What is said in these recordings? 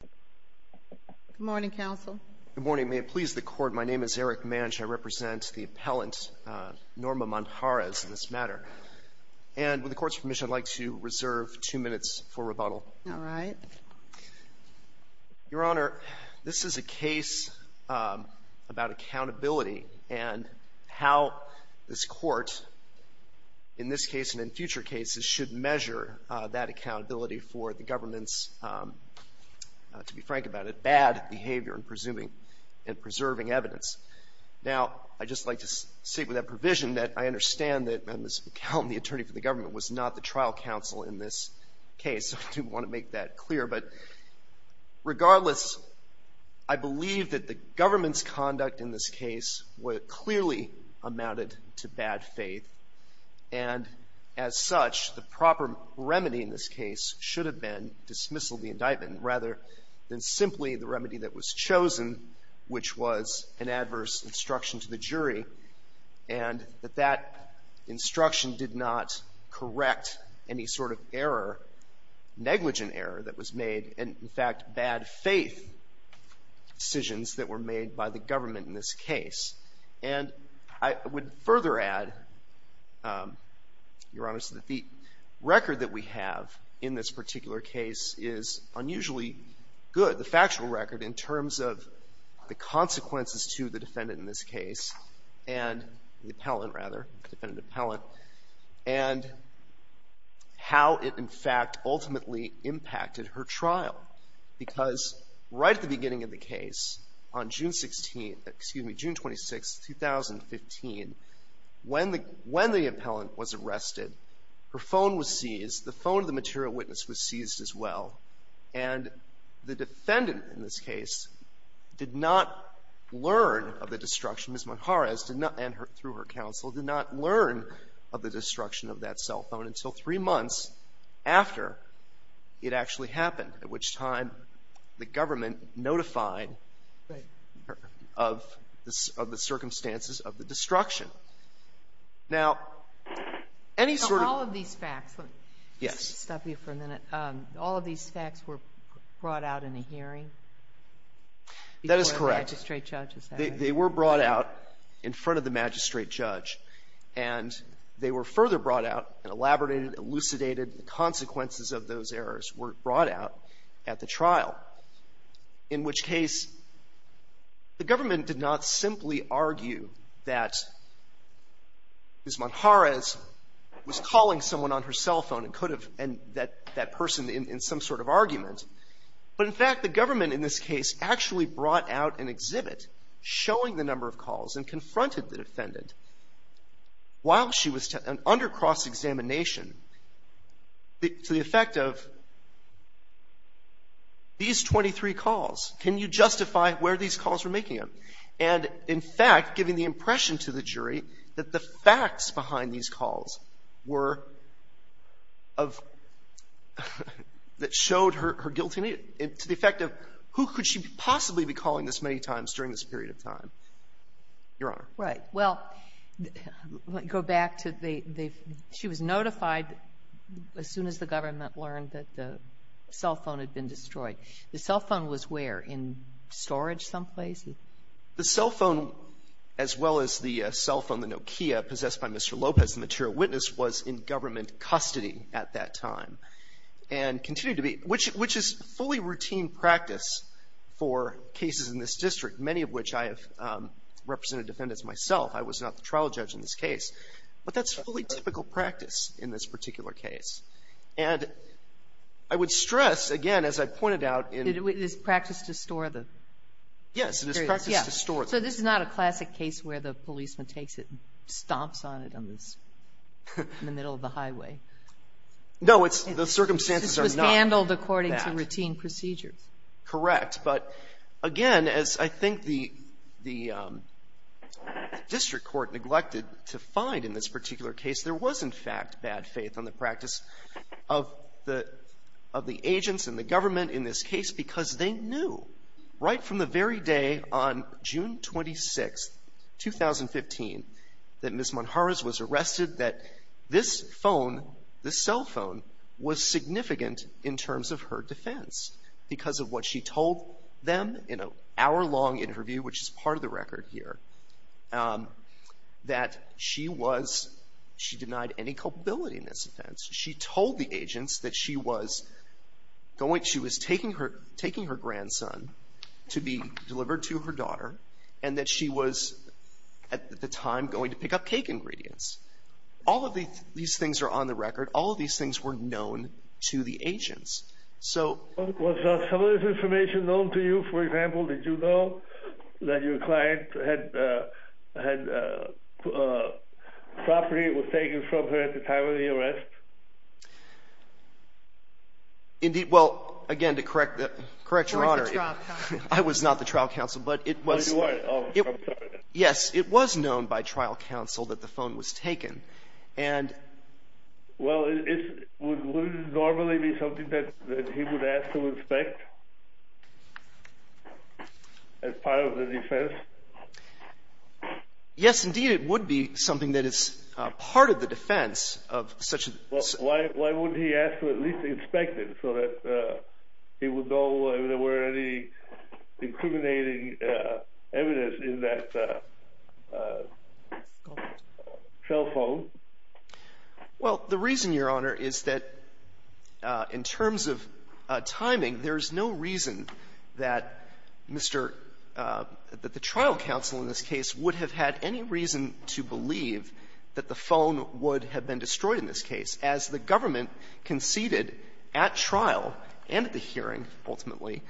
Good morning, counsel. Good morning. May it please the Court, my name is Eric Manj. I represent the appellant, Norma Manjarrez, in this matter. And with the Court's permission, I'd like to reserve two minutes for rebuttal. All right. Your Honor, this is a case about accountability and how this Court, in this case and in future cases, should measure that accountability for the government's, to be frank about it, bad behavior in presuming and preserving evidence. Now, I'd just like to state with that provision that I understand that Ms. McCown, the attorney for the government, was not the trial counsel in this case. I do want to make that clear. But regardless, I believe that the government's conduct in this case clearly amounted to bad faith. And as such, the proper remedy in this case should have been dismissal of the indictment, rather than simply the remedy that was chosen, which was an adverse instruction to the jury, and that that instruction did not correct any sort of error, negligent error that was made, and, in fact, bad faith decisions that were made by the government in this case. And I would further add, Your Honor, that the record that we have in this particular case is unusually good, the factual record, in terms of the consequences to the defendant in this case and the appellant, rather, the defendant appellant, and how it, in fact, ultimately impacted her trial. Because right at the beginning of the case, on June 16th, excuse me, June 26th, 2015, when the appellant was arrested, her phone was seized. The phone of the material witness was seized as well. And the defendant in this case did not learn of the destruction. Ms. Monjarez did not, and through her counsel, did not learn of the destruction of that cell phone until three months after it actually happened, at which time the government notified her of the circumstances of the destruction. Now, any sort of... All of these facts... Yes. Let me stop you for a minute. All of these facts were brought out in a hearing? That is correct. Before the magistrate judge's hearing. They were brought out in front of the magistrate judge, and they were further brought out and elaborated, elucidated. The consequences of those errors were brought out at the trial, in which case the government did not simply argue that Ms. Monjarez was calling someone on her cell phone and could have, and that person in some sort of argument. But, in fact, the government in this case actually brought out an exhibit showing the number of calls and confronted the defendant while she was under cross-examination, to the effect of, these 23 calls, can you justify where these calls were making them? And, in fact, giving the impression to the jury that the facts behind these calls were of... that showed her guilt in it, to the effect of, who could she possibly be calling this many times during this period of time? Your Honor. Right. Well, let me go back to the... She was notified as soon as the government learned that the cell phone had been destroyed. The cell phone was where? In storage someplace? The cell phone, as well as the cell phone, the Nokia, possessed by Mr. Lopez, the material witness, was in government custody at that time and continued to be, which is fully routine practice for cases in this district, many of which I have represented defendants myself. I was not the trial judge in this case. But that's fully typical practice in this particular case. And I would stress, again, as I pointed out in... It is practice to store the... Yes, it is practice to store the... So this is not a classic case where the policeman takes it and stomps on it on the middle of the highway. No, the circumstances are not that. This was handled according to routine procedures. Correct. But, again, as I think the district court neglected to find in this particular case, there was, in fact, bad faith on the practice of the agents and the government in this case because they knew right from the very day on June 26, 2015, that Ms. Monjarez was arrested, that this phone, this cell phone, was significant in terms of her defense because of what she told them in an hour-long interview, which is part of the record here, that she was... She denied any culpability in this offense. She told the agents that she was going... She was taking her grandson to be delivered to her daughter and that she was, at the time, going to pick up cake ingredients. All of these things are on the record. All of these things were known to the agents. So... Was some of this information known to you? For example, did you know that your client had property that was taken from her at the time of the arrest? Indeed... Well, again, to correct Your Honor... You weren't the trial counsel. I was not the trial counsel, but it was... Oh, I'm sorry. Yes, it was known by trial counsel that the phone was taken, and... Well, would it normally be something that he would ask to inspect as part of the defense? Yes, indeed, it would be something that is part of the defense of such a... Well, why wouldn't he ask to at least inspect it so that he would know whether there were any incriminating evidence in that cell phone? Well, the reason, Your Honor, is that in terms of timing, there's no reason that Mr. — that the trial counsel in this case would have had any reason to believe that the phone would have been destroyed in this case as the government conceded at trial and at the hearing, ultimately,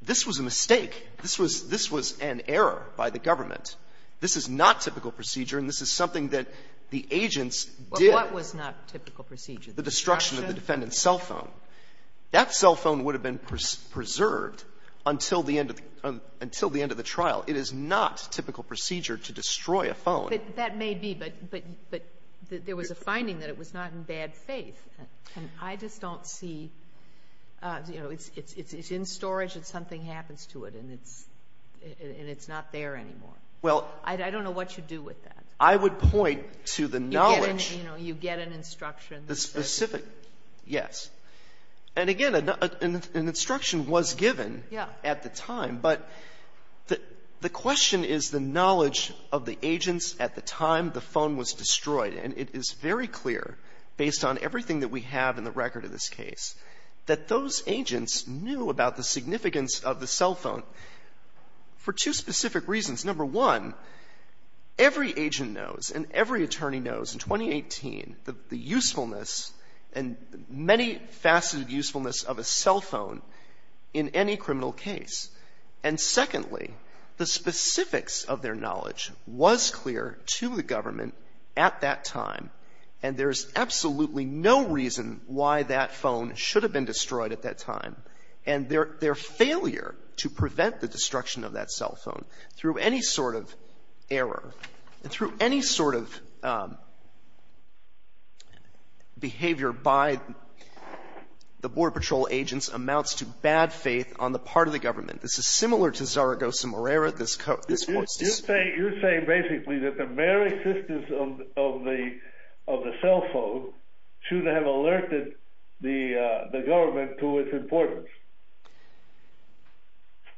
this was a mistake. This was an error by the government. This is not typical procedure, and this is something that the agents did. Well, what was not typical procedure? The destruction? The destruction of the defendant's cell phone. That cell phone would have been preserved until the end of the trial. It is not typical procedure to destroy a phone. That may be, but there was a finding that it was not in bad faith. And I just don't see, you know, it's in storage and something happens to it, and it's not there anymore. I don't know what you do with that. I would point to the knowledge. You get an instruction. The specific, yes. And again, an instruction was given at the time, but the question is the knowledge of the agents at the time the phone was destroyed. And it is very clear, based on everything that we have in the record of this case, that those agents knew about the significance of the cell phone for two specific reasons. Number one, every agent knows and every attorney knows in 2018 the usefulness and many-faceted usefulness of a cell phone in any criminal case. And secondly, the specifics of their knowledge was clear to the government at that time, and there is absolutely no reason why that phone should have been destroyed at that time. And their failure to prevent the destruction of that cell phone through any sort of error and through any sort of behavior by the Border Patrol agents amounts to bad faith on the part of the government. This is similar to Zaragoza-Morera. You're saying basically that the very existence of the cell phone should have alerted the government to its importance.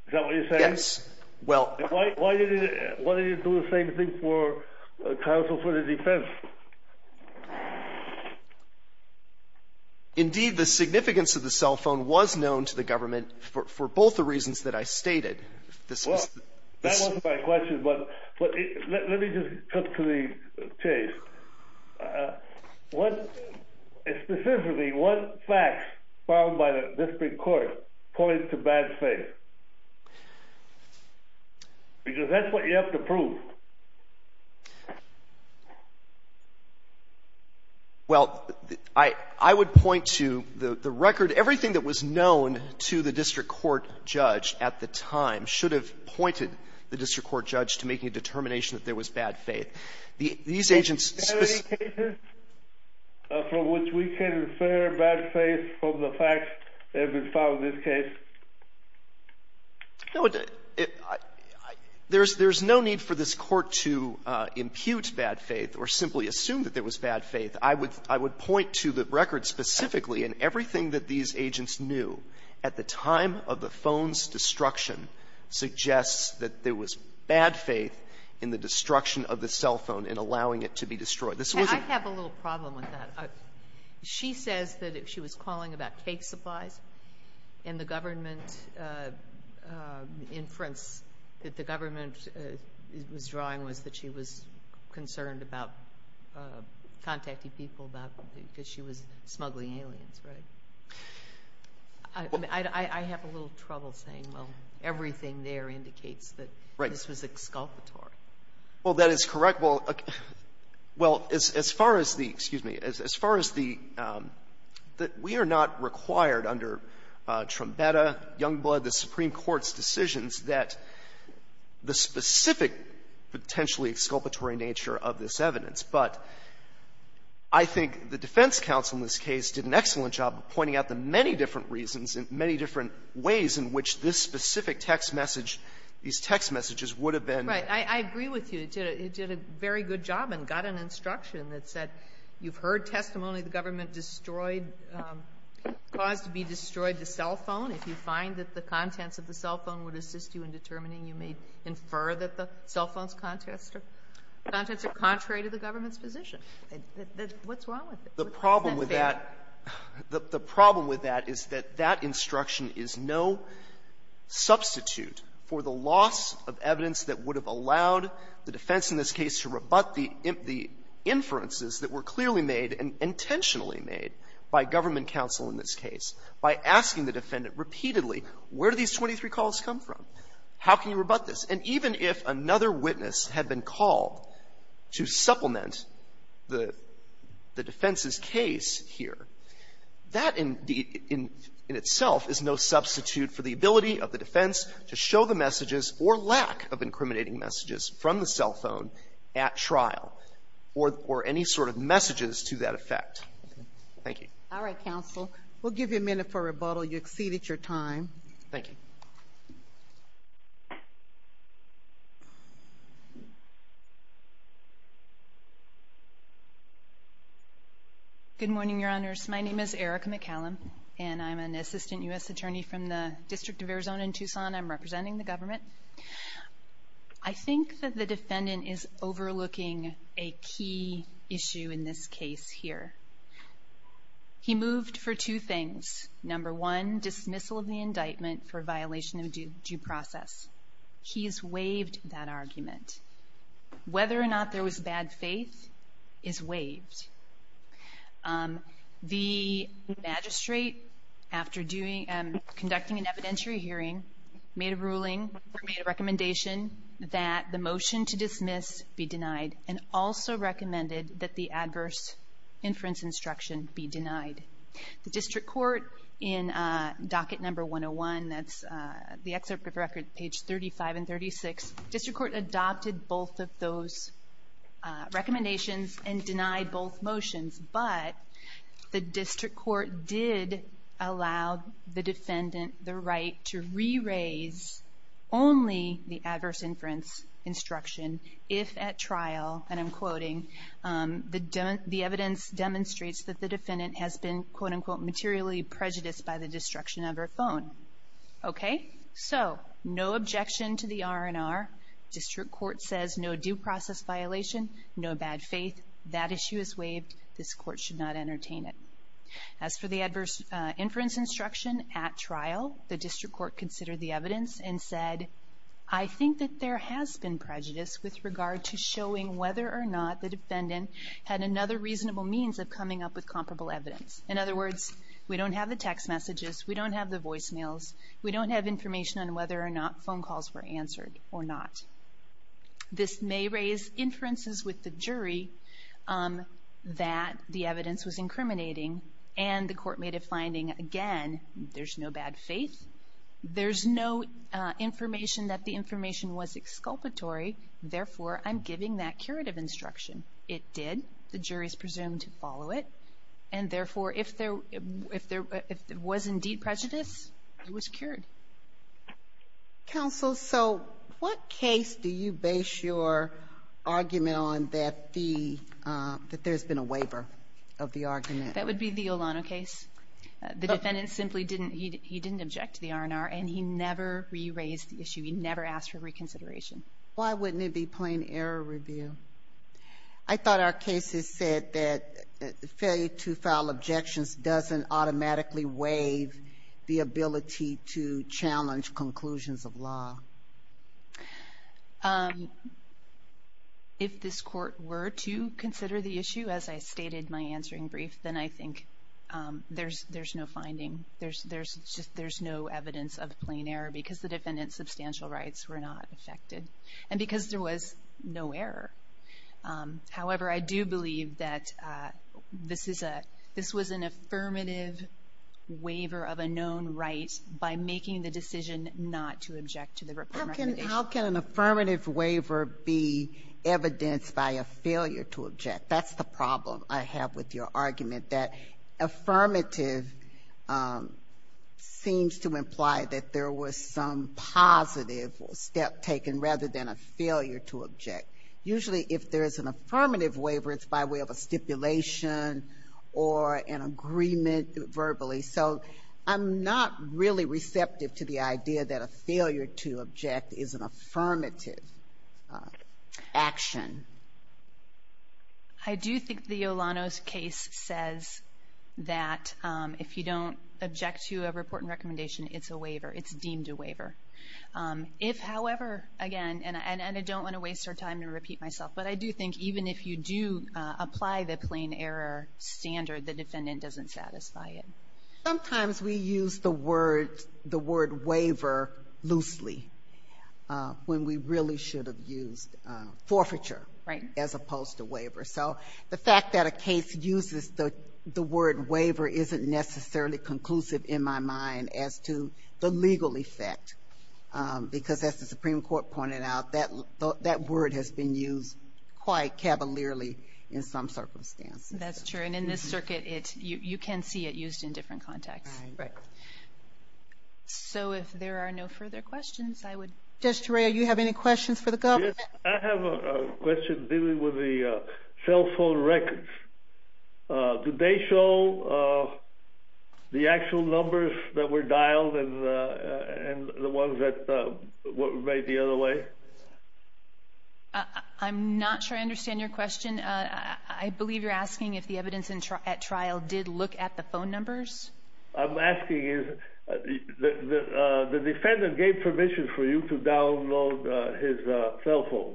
Is that what you're saying? Yes. Why didn't it do the same thing for counsel for the defense? Indeed, the significance of the cell phone was known to the government for both the reasons that I stated. That wasn't my question, but let me just cut to the chase. Specifically, what facts filed by the district court point to bad faith? Because that's what you have to prove. Well, I would point to the record. Everything that was known to the district court judge at the time should have pointed the district court judge to making a determination that there was bad faith. Do you have any cases from which we can infer bad faith from the facts that have been filed in this case? No. There's no need for this Court to impute bad faith or simply assume that there was bad faith. I would point to the record specifically, and everything that these agents knew at the time of the phone's destruction suggests that there was bad faith in the destruction of the cell phone in allowing it to be destroyed. This wasn't the case. I have a little problem with that. She says that she was calling about cake supplies, and the government inference that the government was drawing was that she was concerned about contacting people because she was smuggling aliens, right? I have a little trouble saying, well, everything there indicates that this was exculpatory. Well, that is correct. Well, as far as the, excuse me, as far as the we are not required under Trumbetta, Youngblood, the Supreme Court's decisions that the specific potentially exculpatory nature of this evidence, but I think the defense counsel in this case did an excellent job of pointing out the many different reasons and many different ways in which this specific text message, these text messages would have been used. Right. I agree with you. It did a very good job and got an instruction that said you've heard testimony the government destroyed, caused to be destroyed the cell phone. If you find that the contents of the cell phone would assist you in determining you may infer that the cell phone's contents are contrary to the government's position. What's wrong with it? Isn't that fair? The problem with that is that that instruction is no substitute for the loss of evidence that would have allowed the defense in this case to rebut the inferences that were clearly made and intentionally made by government counsel in this case by asking the defendant repeatedly, where do these 23 calls come from, how can you rebut this? And even if another witness had been called to supplement the defense's case, he would not appear. That in itself is no substitute for the ability of the defense to show the messages or lack of incriminating messages from the cell phone at trial or any sort of messages to that effect. Thank you. All right, counsel. We'll give you a minute for rebuttal. You exceeded your time. Thank you. Good morning, Your Honors. My name is Erica McCallum, and I'm an assistant U.S. attorney from the District of Arizona in Tucson. I'm representing the government. I think that the defendant is overlooking a key issue in this case here. He moved for two things. Number one, dismissal of the indictment for violation of due process. He's waived that argument. Whether or not there was bad faith is waived. The magistrate, after conducting an evidentiary hearing, made a ruling or made a recommendation that the motion to dismiss be denied and also recommended that the adverse inference instruction be denied. The district court in docket number 101, that's the excerpt of record page 35 and 36, district court adopted both of those recommendations and denied both motions. But the district court did allow the defendant the right to re-raise only the adverse inference instruction if at trial, and I'm quoting, the evidence demonstrates that the defendant has been, quote-unquote, materially prejudiced by the destruction of her phone. Okay? So, no objection to the R&R. District court says no due process violation, no bad faith. That issue is waived. This court should not entertain it. As for the adverse inference instruction at trial, the district court considered the evidence and said, I think that there has been prejudice with regard to showing whether or not the defendant had another reasonable means of coming up with comparable evidence. In other words, we don't have the text messages, we don't have the voicemails, we don't have information on whether or not phone calls were answered or not. This may raise inferences with the jury that the evidence was incriminating, and the court made a finding, again, there's no bad faith, there's no information that the information was exculpatory, therefore I'm giving that curative instruction. It did. The jury is presumed to follow it. And, therefore, if there was indeed prejudice, it was cured. Counsel, so what case do you base your argument on that there's been a waiver of the argument? That would be the Olano case. The defendant simply didn't, he didn't object to the R&R, and he never re-raised the issue. He never asked for reconsideration. Why wouldn't it be plain error review? I thought our case has said that failure to file objections doesn't automatically waive the ability to challenge conclusions of law. If this court were to consider the issue, as I stated in my answering brief, then I think there's no finding. There's no evidence of plain error because the defendant's substantial rights were not affected and because there was no error. However, I do believe that this was an affirmative waiver of a known right by making the decision not to object to the recommendation. How can an affirmative waiver be evidenced by a failure to object? That's the problem I have with your argument, that affirmative seems to imply that there was some positive step taken rather than a failure to object. Usually if there's an affirmative waiver, it's by way of a stipulation or an agreement verbally. So I'm not really receptive to the idea that a failure to object is an affirmative action. I do think the Yolanos case says that if you don't object to a report and recommendation, it's a waiver. It's deemed a waiver. If, however, again, and I don't want to waste your time to repeat myself, but I do think even if you do apply the plain error standard, the defendant doesn't satisfy it. Sometimes we use the word waiver loosely when we really should have used forfeiture as opposed to waiver. So the fact that a case uses the word waiver isn't necessarily conclusive in my mind as to the legal effect because as the Supreme Court pointed out, that word has been used quite cavalierly in some circumstances. That's true. And in this circuit, you can see it used in different contexts. Right. So if there are no further questions, I would... Judge Torrey, do you have any questions for the government? Yes, I have a question dealing with the cell phone records. Do they show the actual numbers that were dialed and the ones that were made the other way? I'm not sure I understand your question. I believe you're asking if the evidence at trial did look at the phone numbers. I'm asking if the defendant gave permission for you to download his cell phone,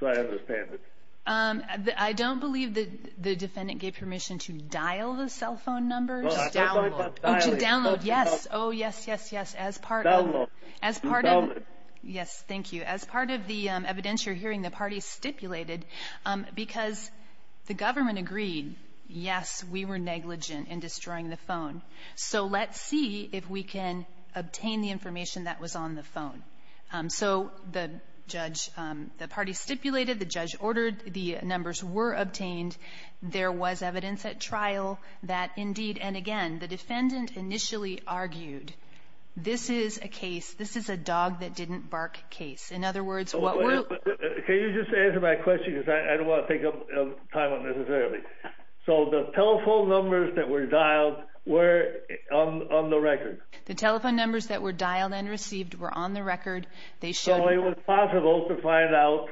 so I understand it. I don't believe the defendant gave permission to dial the cell phone numbers. Download. To download, yes. Oh, yes, yes, yes. As part of... Download. As part of... Download. Yes, thank you. As part of the evidence you're hearing, the parties stipulated because the government agreed, yes, we were negligent in destroying the phone, so let's see if we can obtain the information that was on the phone. So the judge, the parties stipulated, the judge ordered, the numbers were obtained, there was evidence at trial that indeed, and again, the defendant initially argued, this is a case, this is a dog that didn't bark case. In other words, what we're... Can you just answer my question because I don't want to take up time unnecessarily. So the telephone numbers that were dialed were on the record? The telephone numbers that were dialed and received were on the record. So it was possible to find out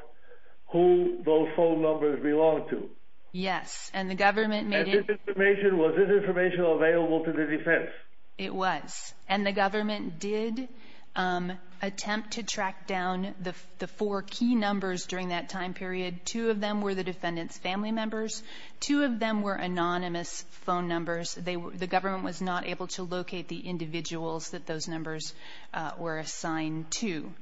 who those phone numbers belonged to? Yes, and the government made it... And this information, was this information available to the defense? It was, and the government did attempt to track down the four key numbers during that time period. Two of them were the defendant's family members. Two of them were anonymous phone numbers. The government was not able to locate the individuals that those numbers were assigned to.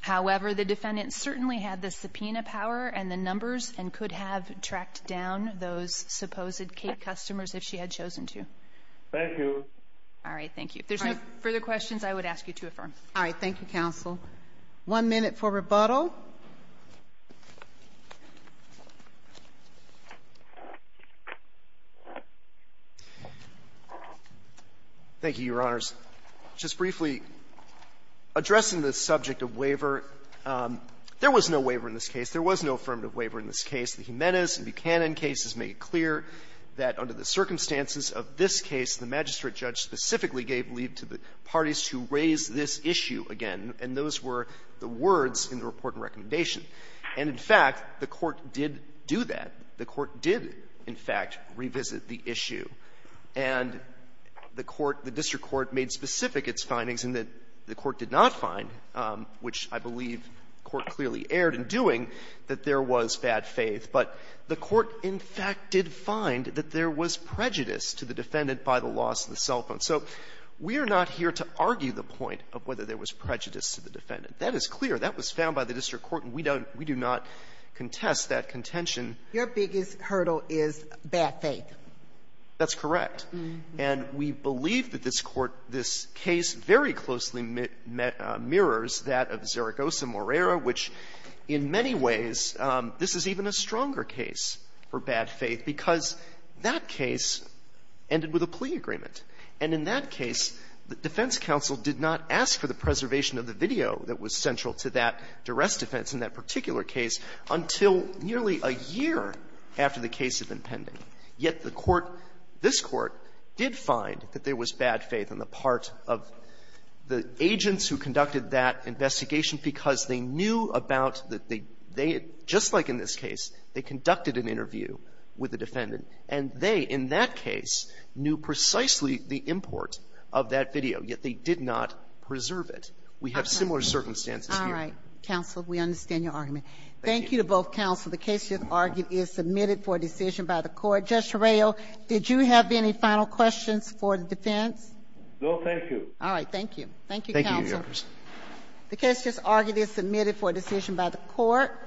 However, the defendant certainly had the subpoena power and the numbers and could have tracked down those supposed Kate customers if she had chosen to. Thank you. All right, thank you. If there's no further questions, I would ask you to affirm. All right, thank you, counsel. One minute for rebuttal. Thank you, Your Honors. Just briefly, addressing the subject of waiver, there was no waiver in this case. There was no affirmative waiver in this case. The Jimenez and Buchanan cases make it clear that under the circumstances of this case, the magistrate judge specifically gave leave to the parties to raise this issue again, and those were the words in the report and recommendation. And in fact, the Court did do that. The Court did, in fact, revisit the issue. And the Court, the district court, made specific its findings in that the Court did not find, which I believe the Court clearly erred in doing, that there was bad faith. But the Court, in fact, did find that there was prejudice to the defendant by the loss of the cell phone. So we are not here to argue the point of whether there was prejudice to the defendant. That is clear. That was found by the district court, and we don't we do not contest that contention. Your biggest hurdle is bad faith. That's correct. And we believe that this Court, this case, very closely mirrors that of Zaragoza-Morera, which in many ways, this is even a stronger case for bad faith because that case ended with a plea agreement. And in that case, the defense counsel did not ask for the preservation of the video that was central to that duress defense in that particular case until nearly a year after the case had been pending. Yet the Court, this Court, did find that there was bad faith on the part of the agents who conducted that investigation because they knew about the they had, just like in this case, they conducted an interview with the defendant. And they, in that case, knew precisely the import of that video. Yet they did not preserve it. We have similar circumstances here. All right. Counsel, we understand your argument. Thank you to both counsel. The case, as argued, is submitted for a decision by the Court. Judge Torreo, did you have any final questions for the defense? No, thank you. All right. Thank you. Thank you, counsel. Thank you, Your Honor. The case, as argued, is submitted for a decision by the Court.